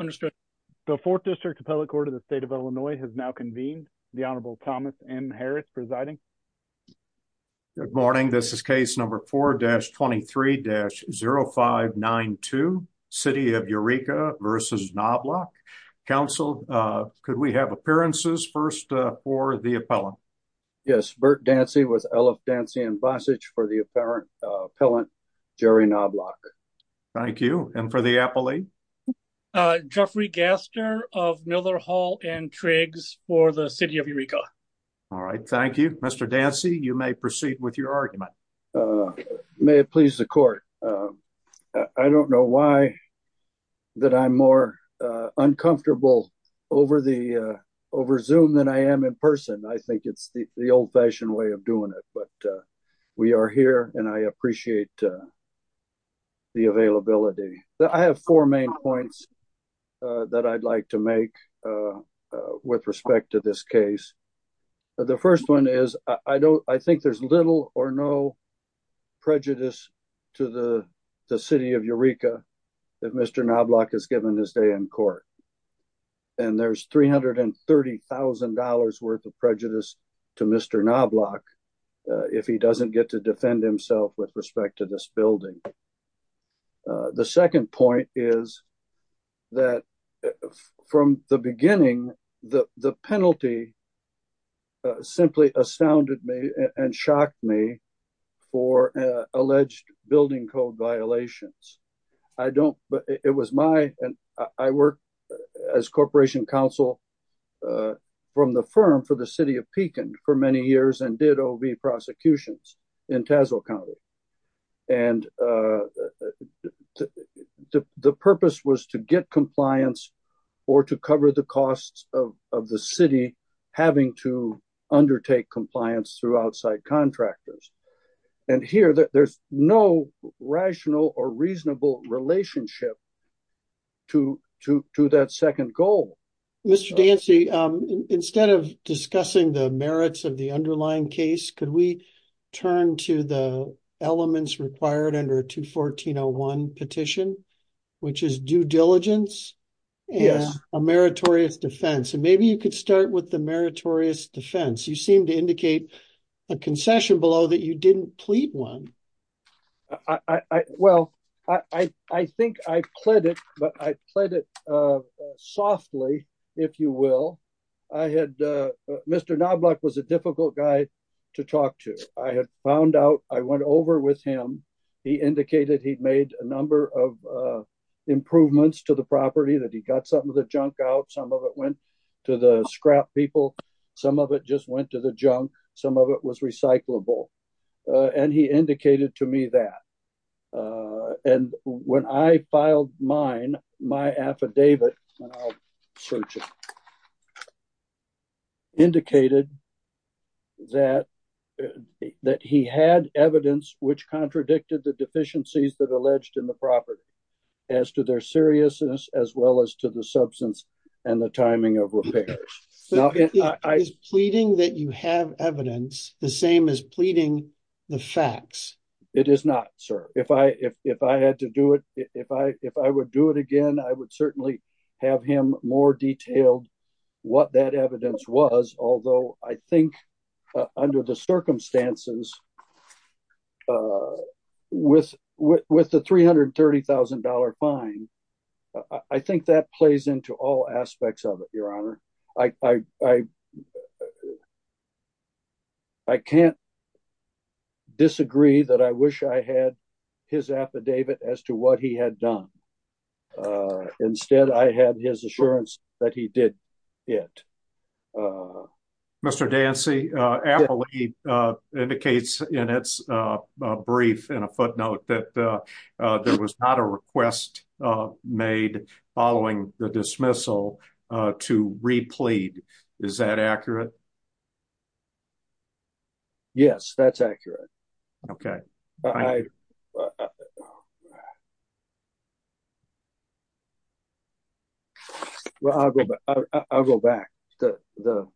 understood the fourth district appellate court of the state of illinois has now convened the honorable thomas m harris presiding good morning this is case number 4-23-0592 city of eureka versus knobloch council uh could we have appearances first uh for the appellant yes burt dancy with eliph dancy and bossage for the apparent uh appellant jerry knobloch thank you and for the appellate uh jeffrey gaster of miller hall and triggs for the city of eureka all right thank you mr dancy you may proceed with your argument uh may it please the court i don't know why that i'm more uh uncomfortable over the uh over zoom than i am in person i think it's the the old-fashioned way of doing it but uh we are here and i appreciate uh the availability that i have four main points uh that i'd like to make uh uh with respect to this case the first one is i don't i think there's little or no prejudice to the the city of eureka if mr knobloch has given his day in court and there's 330 thousand dollars worth of prejudice to mr knobloch if he doesn't get to defend himself with respect to this building the second point is that from the beginning the the penalty simply astounded me and shocked me for alleged building code violations i don't but it was my and i work as corporation counsel uh from the firm for the city of pecan for many years and did ov prosecutions in tassel county and uh the the purpose was to get compliance or to cover the costs of of the city having to undertake compliance through outside contractors and here there's no rational or reasonable relationship to to to that second goal mr dancy um instead of discussing the merits of the underlying case could we turn to the elements required under 214-01 petition which is due defense you seem to indicate a concession below that you didn't plead one i i well i i i think i pledged but i pledged it uh softly if you will i had uh mr knobloch was a difficult guy to talk to i had found out i went over with him he indicated he'd made a number of uh improvements to the some of it just went to the junk some of it was recyclable uh and he indicated to me that uh and when i filed mine my affidavit indicated that that he had evidence which contradicted the deficiencies that alleged in the property as to their seriousness as well as to the substance and the timing of repairs now is pleading that you have evidence the same as pleading the facts it is not sir if i if if i had to do it if i if i would do it again i would certainly have him more detailed what that evidence was although i think under the circumstances uh with with the 330 000 fine i think that plays into all aspects of it your honor i i i i can't disagree that i wish i had his affidavit as to what he had done uh instead i had his assurance that he did it uh mr dancy uh appellee uh indicates in its brief in a footnote that uh uh there was not a request uh made following the dismissal to replead is that accurate yes that's accurate okay i well i'll go back i'll go back to the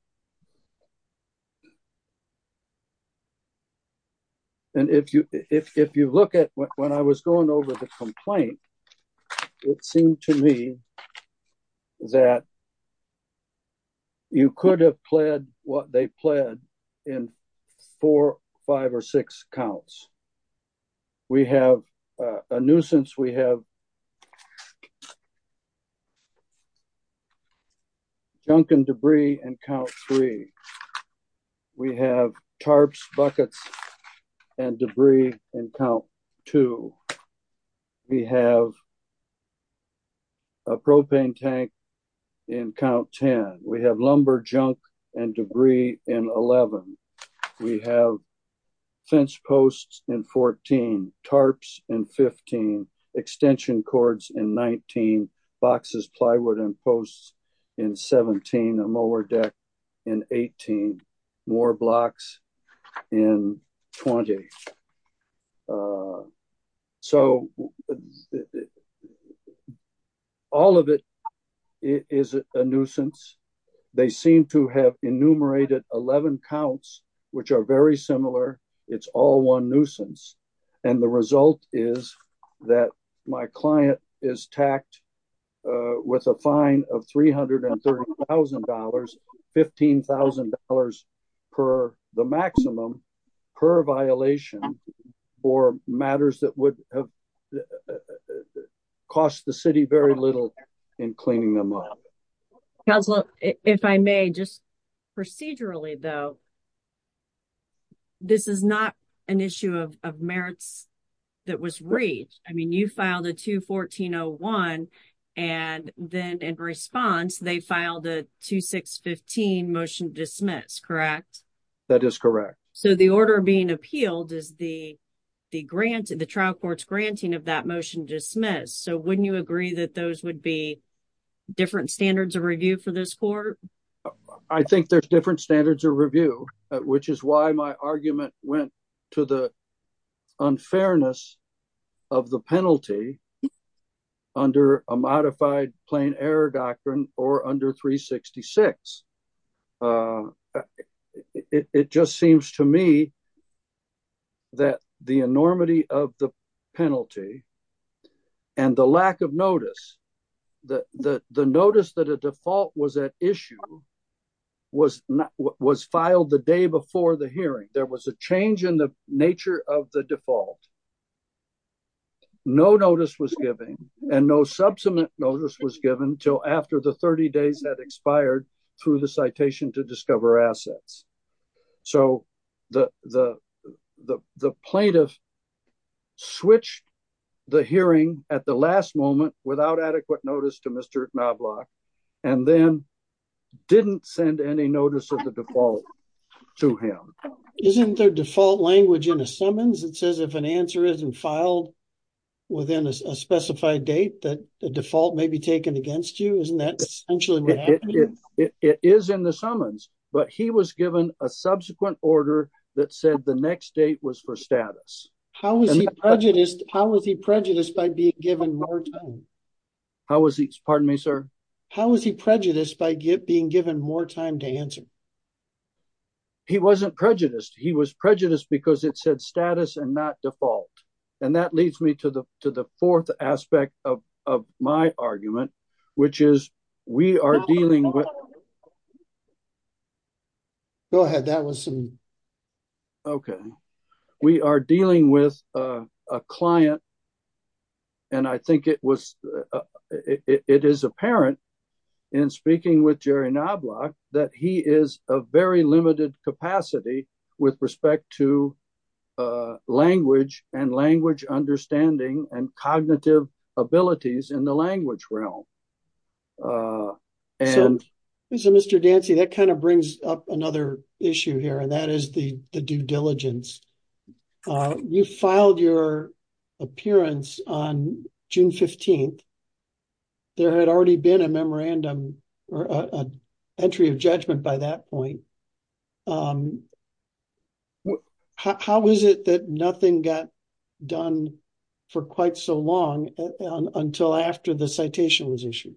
and if you if if you look at when i was going over the complaint it seemed to me that you could have pled what they pled in four five or six counts we have a nuisance we have okay junk and debris and count three we have tarps buckets and debris in count two we have a propane tank in count 10 we have lumber junk and debris in 11 we have fence posts in 14 tarps in 15 extension cords in 19 boxes plywood and posts in 17 a mower deck in 18 more blocks in 20. uh so it all of it is a nuisance they seem to have enumerated 11 counts which are very similar it's all one nuisance and the result is that my client is tacked uh with a fine of $330,000 $15,000 per the maximum per violation for matters that would have cost the city very little in cleaning them up council if i may just procedurally though this is not an issue of merits that was reached i mean you filed a 214-01 and then in response they filed a 2615 motion dismiss correct that is correct so the order being appealed is the the grant the trial court's granting of that motion dismiss so wouldn't you agree that those would be different standards of review for this court i think there's different standards of review which is why my argument went to the unfairness of the penalty under a modified plain error doctrine or under 366 it just seems to me that the enormity of the penalty and the lack of notice that the the notice that a default was at issue was not what was filed the day before the hearing there was a change in the nature of the default no notice was given and no substantive notice was given until after the 30 days had expired through the citation to discover assets so the the the plaintiff switched the hearing at the last moment without adequate notice to mr knobloch and then didn't send any notice of the default to him isn't there default language in the summons it says if an answer isn't filed within a specified date that the default may be taken against you isn't that essentially it is in the summons but he was given a subsequent order that said the next date was for status how was he prejudiced how was he prejudiced by being given more time how was he pardon me sir how was he prejudiced by get being given more time to answer he wasn't prejudiced he was prejudiced because it said status and not default and that leads me to the to the fourth aspect of of my argument which is we are dealing with go ahead that was some okay we are dealing with a client and i think it was it is apparent in speaking with jerry knobloch that he is a very limited capacity with respect to language and language understanding and cognitive abilities in the language realm uh and so mr dancy that kind of brings up another issue here and that is the the due diligence uh you filed your appearance on june 15th there had already been a memorandum or a entry of judgment by that point um how is it that nothing got done for quite so long until after the citation was issued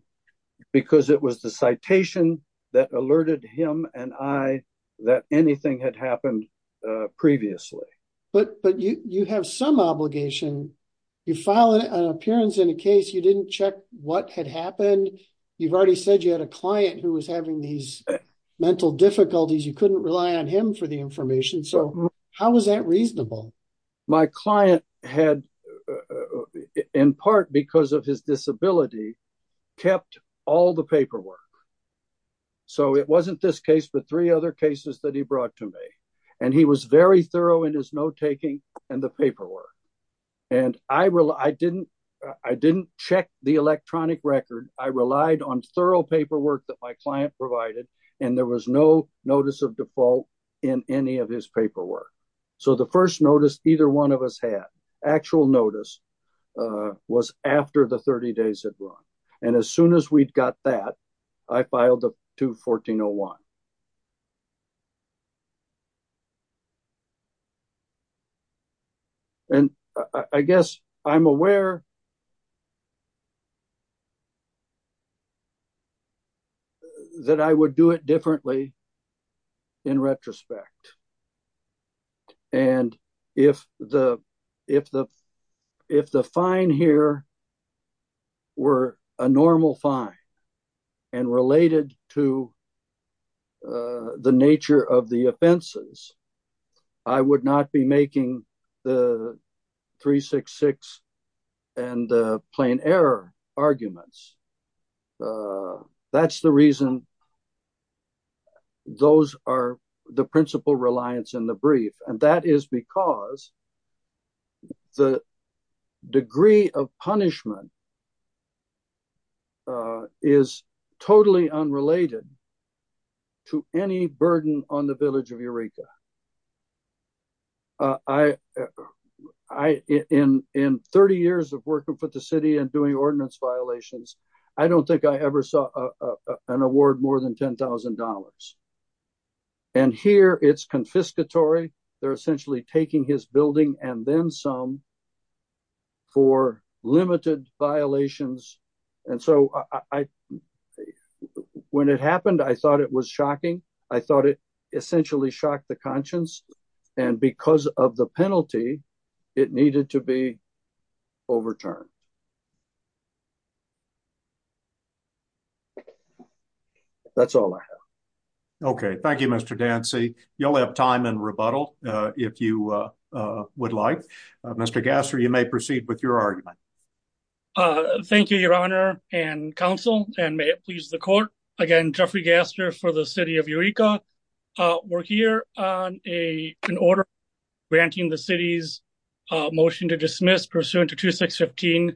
because it was the citation that alerted him and i that anything had happened uh previously but but you you have some obligation you filed an appearance in a case you didn't check what had happened you've already said you had a client who was having these mental difficulties you how was that reasonable my client had in part because of his disability kept all the paperwork so it wasn't this case but three other cases that he brought to me and he was very thorough in his note-taking and the paperwork and i really i didn't i didn't check the electronic record i relied on thorough paperwork that my client provided and there was no notice of default in any of his paperwork so the first notice either one of us had actual notice uh was after the 30 days had run and as soon as we'd got that i filed the 1401 and i guess i'm aware that i would do it differently in retrospect and if the if the if the fine here were a normal fine and related to uh the nature of the offenses i would not be making the 366 and the plain error arguments uh that's the reason those are the principal reliance in the brief and that is because the degree of punishment uh is totally unrelated to any burden on the village of eureka uh i i in in 30 years of working for the city and doing ordinance violations i don't think i ever saw a an award more than ten thousand dollars and here it's confiscatory they're essentially taking his building and then some for limited violations and so i when it happened i thought it was shocking i thought it essentially shocked the conscience and because of the penalty it needed to be overturned uh that's all i have okay thank you mr dancy you'll have time and rebuttal uh if you uh uh would like uh mr gaster you may proceed with your argument uh thank you your honor and council and may it please the court again jeffrey gaster for the city of eureka uh we're here on a an order granting the city's uh motion to dismiss pursuant to 2615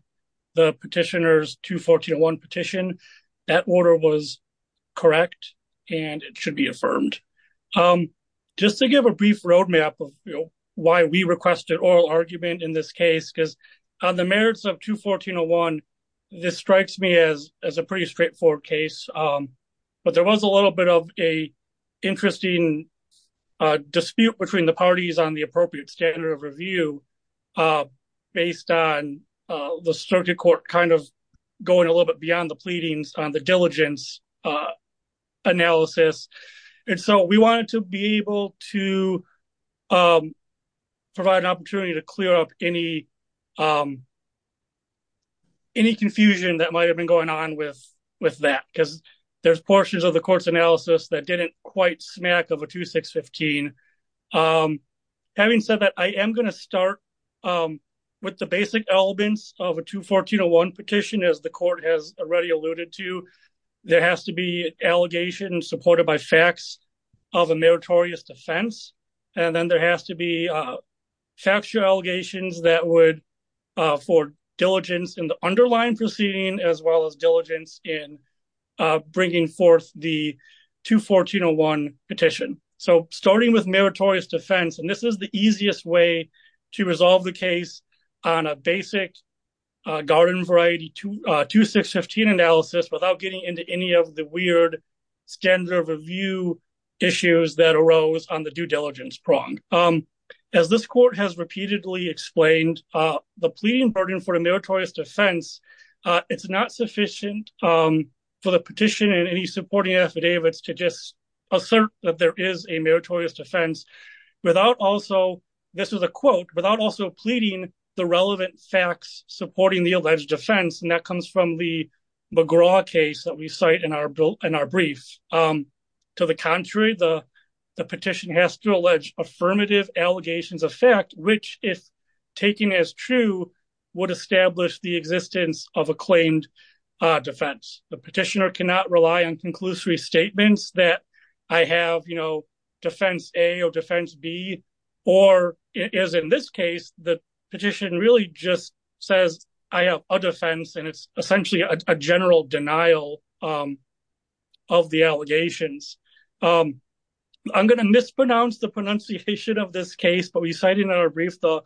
the petitioner's 214 petition that order was correct and it should be affirmed um just to give a brief roadmap of why we requested oral argument in this case because on the merits of 21401 this strikes me as as a pretty straightforward case um but there was a little bit of a interesting uh dispute between the parties on the appropriate standard of review uh based on uh the circuit court kind of going a little bit beyond the pleadings on the diligence uh analysis and so we wanted to be able to um provide an opportunity to clear up any um any confusion that might have been going on with with that because there's portions of the court's analysis that didn't quite smack of a 2615 um having said that i am going to start um with the basic elements of a 21401 petition as the court has already alluded to there has to be allegations supported by facts of a meritorious defense and then there has to be uh factual allegations that would uh for diligence in the underlying proceeding as well as diligence in uh bringing forth the 21401 petition so starting with meritorious defense and this is the easiest way to resolve the case on a basic garden variety to uh 2615 analysis without getting into any of the weird standard of review issues that arose on the due diligence prong um as this court has repeatedly explained uh the pleading burden for a meritorious defense uh it's not sufficient um for the petition and any supporting affidavits to just assert that there is a meritorious defense without also this is a quote without also pleading the relevant facts supporting the alleged offense and that comes from the McGraw case that we cite in our bill in our brief um to the contrary the the petition has to allege affirmative allegations of which if taken as true would establish the existence of a claimed uh defense the petitioner cannot rely on conclusory statements that i have you know defense a or defense b or is in this case the petition really just says i have a defense and it's essentially a general denial um of the brief the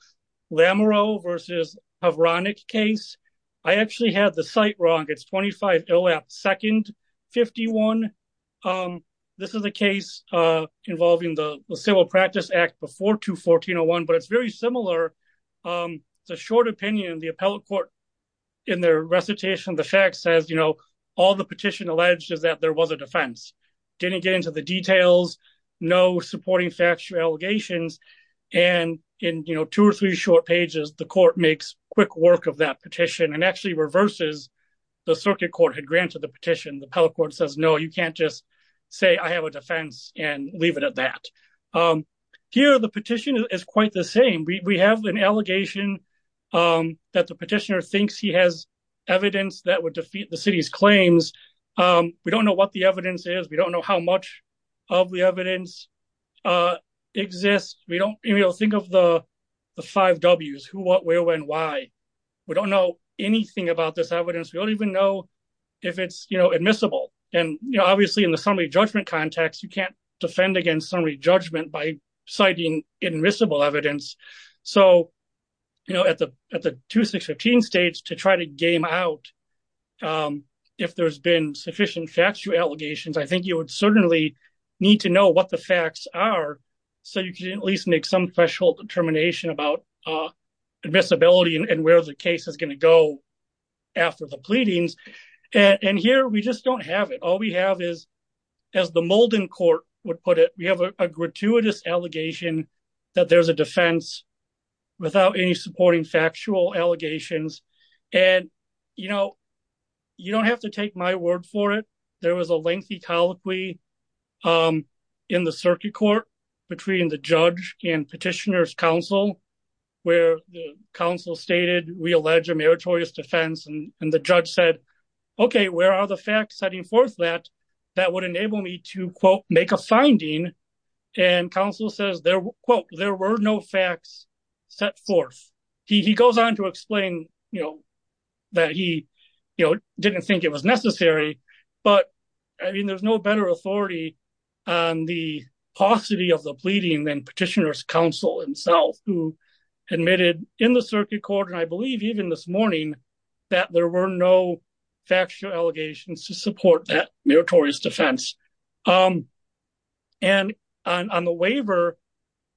lamarow versus havronic case i actually had the site wrong it's 25 ill app second 51 um this is a case uh involving the civil practice act before 21401 but it's very similar um it's a short opinion the appellate court in their recitation the fact says you know all the petition alleged is that there was a defense didn't get into the details no supporting factual allegations and in you know two or three short pages the court makes quick work of that petition and actually reverses the circuit court had granted the petition the appellate court says no you can't just say i have a defense and leave it at that um here the petition is quite the same we have an allegation um that the petitioner thinks he has evidence that would defeat the city's claims um know what the evidence is we don't know how much of the evidence uh exists we don't even think of the the five w's who what where when why we don't know anything about this evidence we don't even know if it's you know admissible and you know obviously in the summary judgment context you can't defend against summary judgment by citing admissible evidence so you know at the at the 2615 stage to try to game out um if there's been sufficient factual allegations i think you would certainly need to know what the facts are so you can at least make some threshold determination about uh visibility and where the case is going to go after the pleadings and here we just don't have it all we have is as the molding court would put it we have a gratuitous allegation that there's a defense without any supporting factual allegations and you know you don't have to take my word for it there was a lengthy colloquy um in the circuit court between the judge and petitioner's council where the council stated we allege a meritorious defense and and the judge said okay where are the facts setting forth that that would enable me to quote make a finding and counsel says there quote there were no facts set forth he he goes on to explain you know that he you know didn't think it was necessary but i mean there's no better authority on the paucity of the pleading than petitioner's council himself who admitted in the circuit court and i believe even this morning that there were no factual allegations to support that meritorious defense um and on on the waiver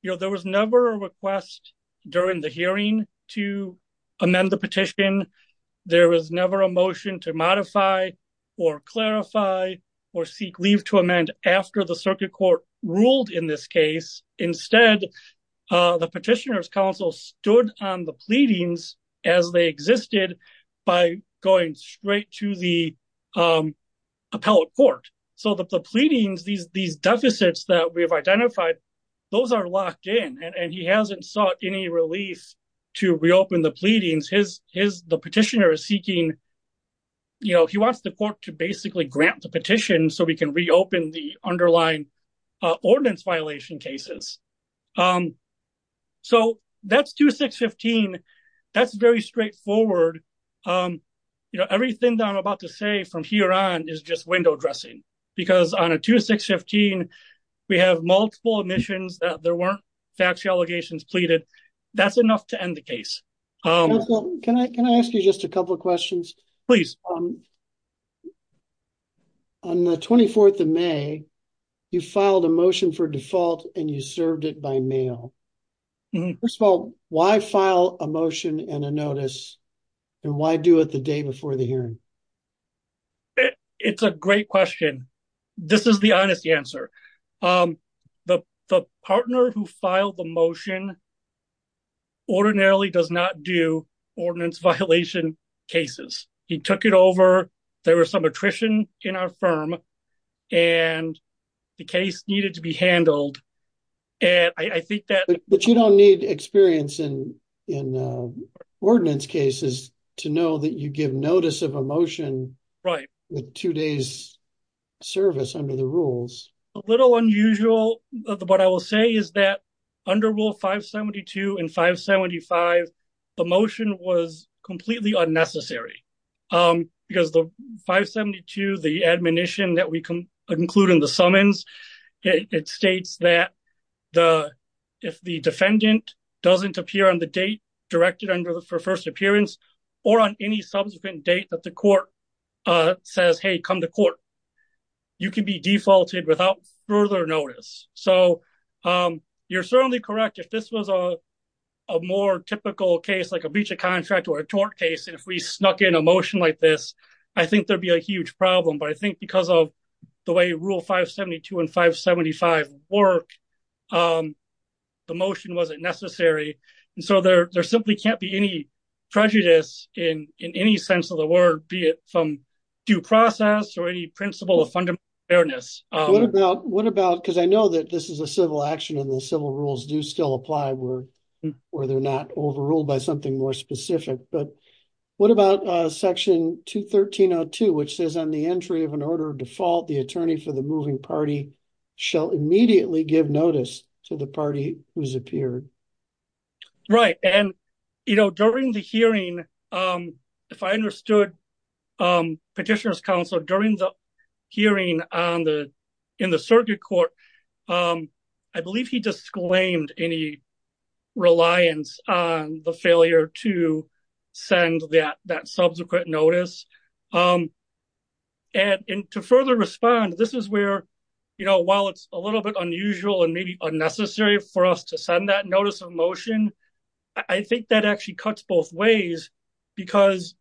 you know there was never a request during the hearing to amend the petition there was never a motion to modify or clarify or seek leave to amend after the circuit court ruled in this case instead uh the petitioner's council stood on the pleadings as they existed by going straight to the um appellate court so that the pleadings these these deficits that we have identified those are locked in and he hasn't sought any relief to reopen the pleadings his his the petitioner is seeking you know he wants the court to basically grant the petition so we can um you know everything that i'm about to say from here on is just window dressing because on a 2615 we have multiple admissions that there weren't factual allegations pleaded that's enough to end the case um can i can i ask you just a couple of questions please um on the 24th of may you filed a motion for default and you served it by mail first of all why file a motion and a notice and why do it the day before the hearing it's a great question this is the honest answer um the the partner who filed the motion ordinarily does not do ordinance violation cases he took it over there was some attrition in our but you don't need experience in in uh ordinance cases to know that you give notice of a motion right with two days service under the rules a little unusual what i will say is that under rule 572 and 575 the motion was completely unnecessary um because the 572 the admonition that we can include in the summons it states that the if the defendant doesn't appear on the date directed under the first appearance or on any subsequent date that the court uh says hey come to court you can be defaulted without further notice so um you're certainly correct if this was a more typical case like a breach of contract or a tort case and if we snuck in a motion like this i think there'd be a huge problem but i think because of the way rule 572 and 575 work um the motion wasn't necessary and so there there simply can't be any prejudice in in any sense of the word be it from due process or any principle of fundamental fairness what about what about because i know that this is a civil action and the civil rules do still apply where they're not overruled by something more specific but what about uh section 21302 which says on the entry of an order of default the attorney for the moving party shall immediately give notice to the party who's appeared right and you know during the hearing um if i understood um petitioner's counsel during the hearing on the in the circuit court um i believe he disclaimed any reliance on the failure to send that that subsequent notice um and to further respond this is where you know while it's a little bit unusual and maybe unnecessary for us to send that notice of motion i think that actually cuts both ways because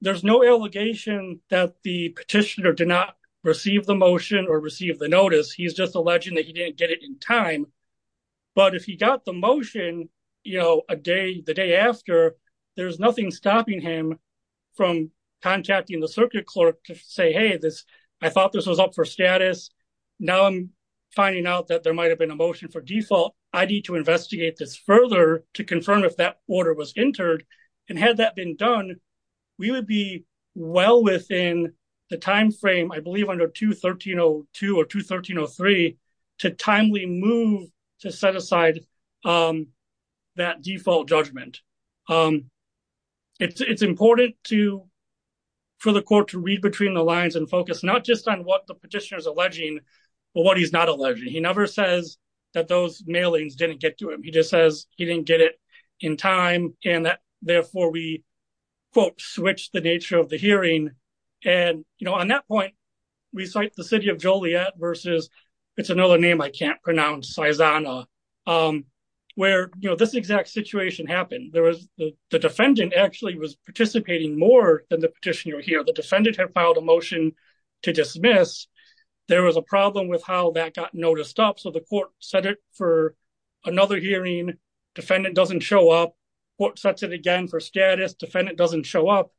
there's no allegation that the petitioner did not receive the motion or receive the notice he's just alleging that he didn't get it in time but if he got the motion you know a day the day after there's nothing stopping him from contacting the circuit clerk to say hey this i thought this was up for status now i'm finding out that there might have been a motion for default i need to investigate this further to confirm if that order was entered and had that been done we would be well within the time frame i move to set aside um that default judgment um it's it's important to for the court to read between the lines and focus not just on what the petitioner is alleging but what he's not alleging he never says that those mailings didn't get to him he just says he didn't get it in time and that therefore we quote switch the nature of the hearing and you know on that point we can't pronounce saizana um where you know this exact situation happened there was the defendant actually was participating more than the petitioner here the defendant had filed a motion to dismiss there was a problem with how that got noticed up so the court set it for another hearing defendant doesn't show up court sets it again for status defendant doesn't show up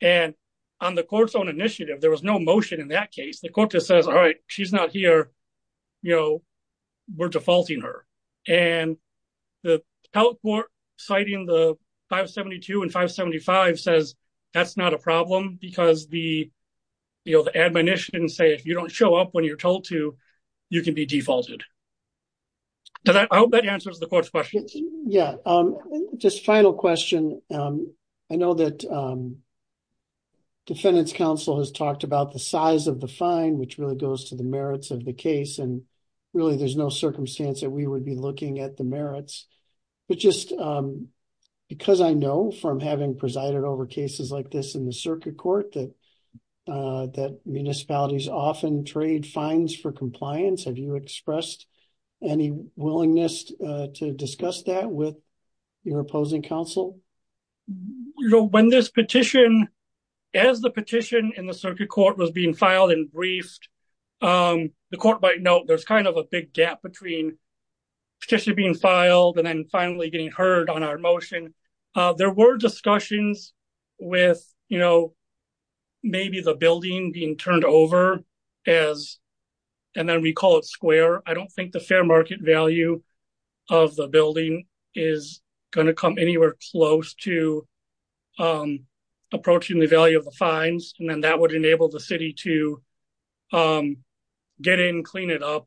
and on the court's own initiative there was no motion in that case the court just says all right she's not here you know we're defaulting her and the health court citing the 572 and 575 says that's not a problem because the you know the admonition didn't say if you don't show up when you're told to you can be defaulted so that i hope that answers the court's questions yeah um just final question um i know that um defendant's counsel has talked about the size of the fine which really goes to merits of the case and really there's no circumstance that we would be looking at the merits but just um because i know from having presided over cases like this in the circuit court that uh that municipalities often trade fines for compliance have you expressed any willingness to discuss that with your opposing counsel you know when this petition as the petition in the briefed um the court might note there's kind of a big gap between petition being filed and then finally getting heard on our motion uh there were discussions with you know maybe the building being turned over as and then we call it square i don't think the fair market value of the building is going to come anywhere close to um approaching the value of the fines and then that would enable the um get in clean it up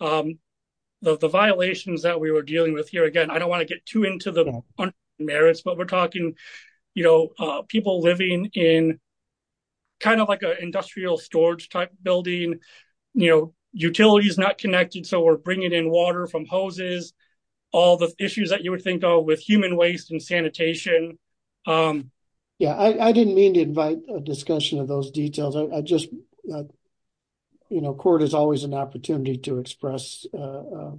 um the violations that we were dealing with here again i don't want to get too into the merits but we're talking you know uh people living in kind of like a industrial storage type building you know utilities not connected so we're bringing in water from hoses all the issues that you would think of with human waste and sanitation um yeah i i didn't mean to you know court is always an opportunity to express uh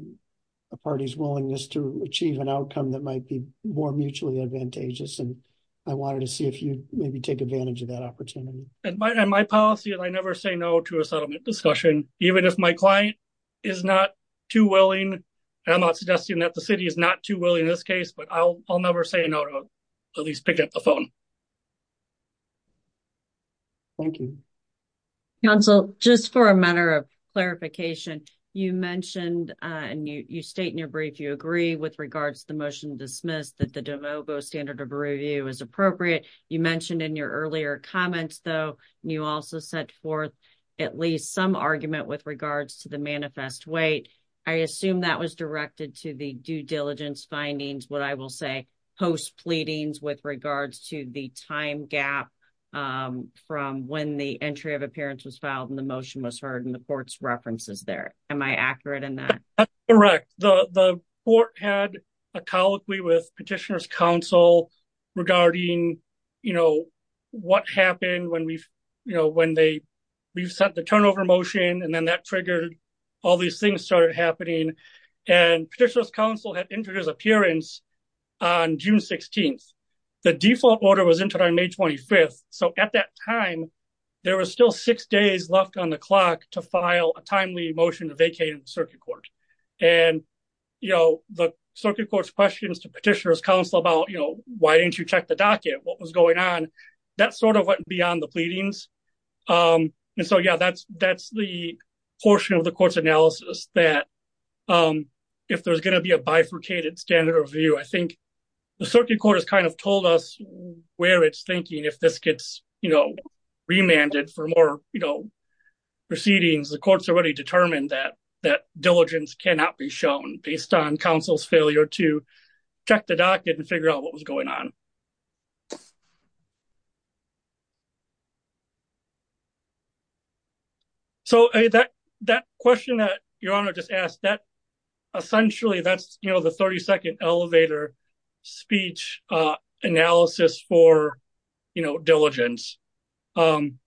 a party's willingness to achieve an outcome that might be more mutually advantageous and i wanted to see if you maybe take advantage of that opportunity and my policy and i never say no to a settlement discussion even if my client is not too willing i'm not suggesting that the city is not too willing in this case but i'll i'll never say no to at least pick up the phone thank you council just for a matter of clarification you mentioned uh and you you state in your brief you agree with regards to the motion dismissed that the demo go standard of review is appropriate you mentioned in your earlier comments though you also set forth at least some argument with regards to the manifest weight i assume that was directed to the due diligence findings what i will say post pleadings with regards to the demo go standard of review the time gap um from when the entry of appearance was filed and the motion was heard in the court's references there am i accurate in that that's correct the the court had a colloquy with petitioner's counsel regarding you know what happened when we've you know when they we've sent the turnover motion and then that triggered all these things started happening and petitioner's appearance on june 16th the default order was entered on may 25th so at that time there was still six days left on the clock to file a timely motion to vacate the circuit court and you know the circuit court's questions to petitioner's counsel about you know why didn't you check the docket what was going on that sort of went beyond the pleadings um and so yeah that's that's the portion of the court's analysis that um if there's going to be a bifurcated standard review i think the circuit court has kind of told us where it's thinking if this gets you know remanded for more you know proceedings the court's already determined that that diligence cannot be shown based on counsel's failure to check the docket and figure out what was going on so that that question that your honor just asked that essentially that's you know the 32nd elevator speech uh analysis for you know diligence um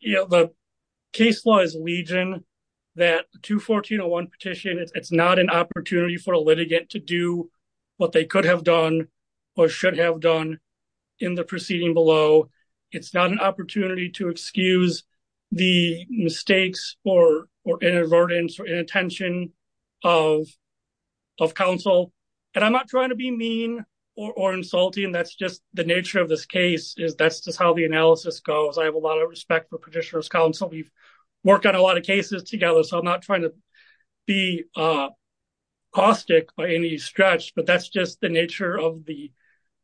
you know the case law is legion that 214.01 petition it's not an opportunity for a litigant to do what they could have done or should have done in the proceeding below it's not an opportunity to excuse the mistakes or or inadvertence or inattention of of counsel and i'm not trying to be mean or insulting that's just the nature of this case is that's just how the analysis goes i have a lot of respect for petitioner's counsel we've worked on a lot of cases together so i'm not trying to be uh caustic by any stretch but that's just the nature of the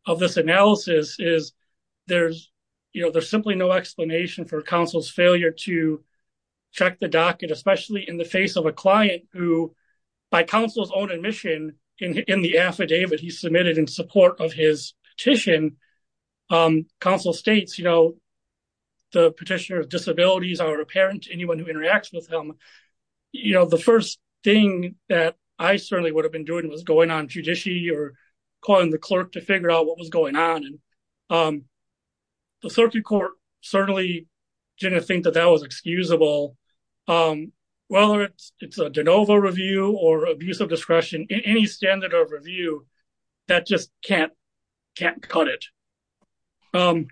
of this analysis is there's you know there's simply no explanation for counsel's failure to check the docket especially in the face of a client who by counsel's own admission in the affidavit he submitted in support of his petition um counsel states you know the petitioner's disabilities are apparent to you know the first thing that i certainly would have been doing was going on judiciary or calling the clerk to figure out what was going on and um the circuit court certainly didn't think that that was excusable um whether it's it's a de novo review or abuse of discretion in any standard of review that just can't can't cut it um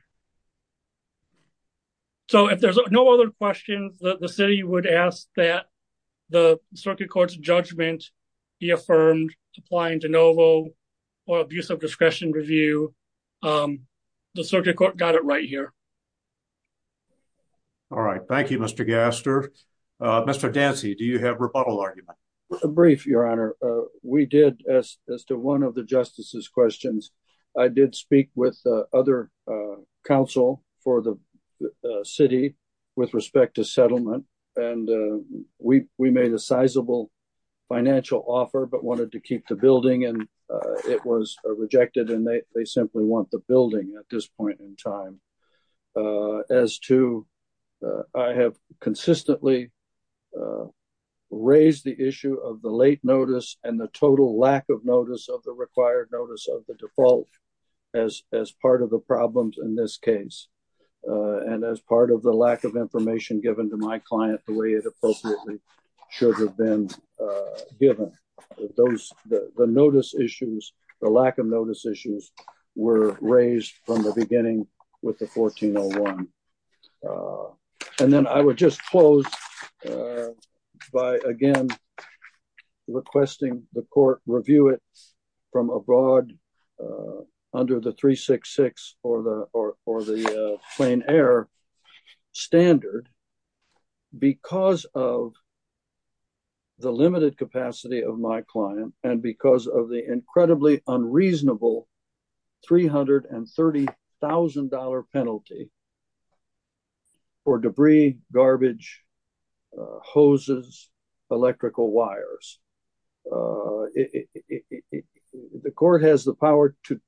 so if there's no other questions that the city would ask that the circuit court's judgment be affirmed applying de novo or abuse of discretion review um the circuit court got it right here all right thank you mr gaster uh mr dancy do you have rebuttal argument a brief your honor uh we did as as to one of the justice's questions i did speak with other council for the city with respect to settlement and we we made a sizable financial offer but wanted to keep the building and it was rejected and they simply want the building at this point in time as to i have consistently raised the issue of the late notice and the total lack of notice of the required notice of the default as as part of the problems in this case and as part of the lack of information given to my client the way it appropriately should have been given those the notice issues the lack of notice issues were raised from the the court review it from abroad uh under the 366 or the or or the plain air standard because of the limited capacity of my client and because of the incredibly unreasonable 330 000 penalty uh for debris garbage uh hoses electrical wires uh it the court has the power to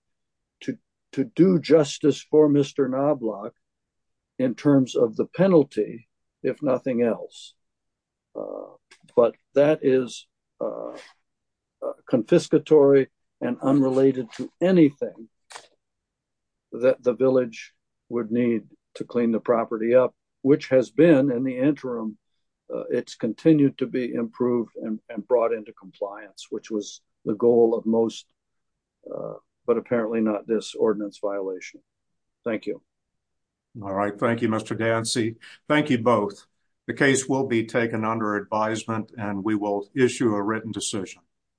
to to do justice for mr knob block in terms of the penalty if nothing else uh but that is uh confiscatory and unrelated to anything that the village would need to clean the property up which has been in the interim it's continued to be improved and brought into compliance which was the goal of most uh but apparently not this ordinance violation thank you all right thank you mr dancy thank you both the case will be taken under advisement and we will issue a written assertion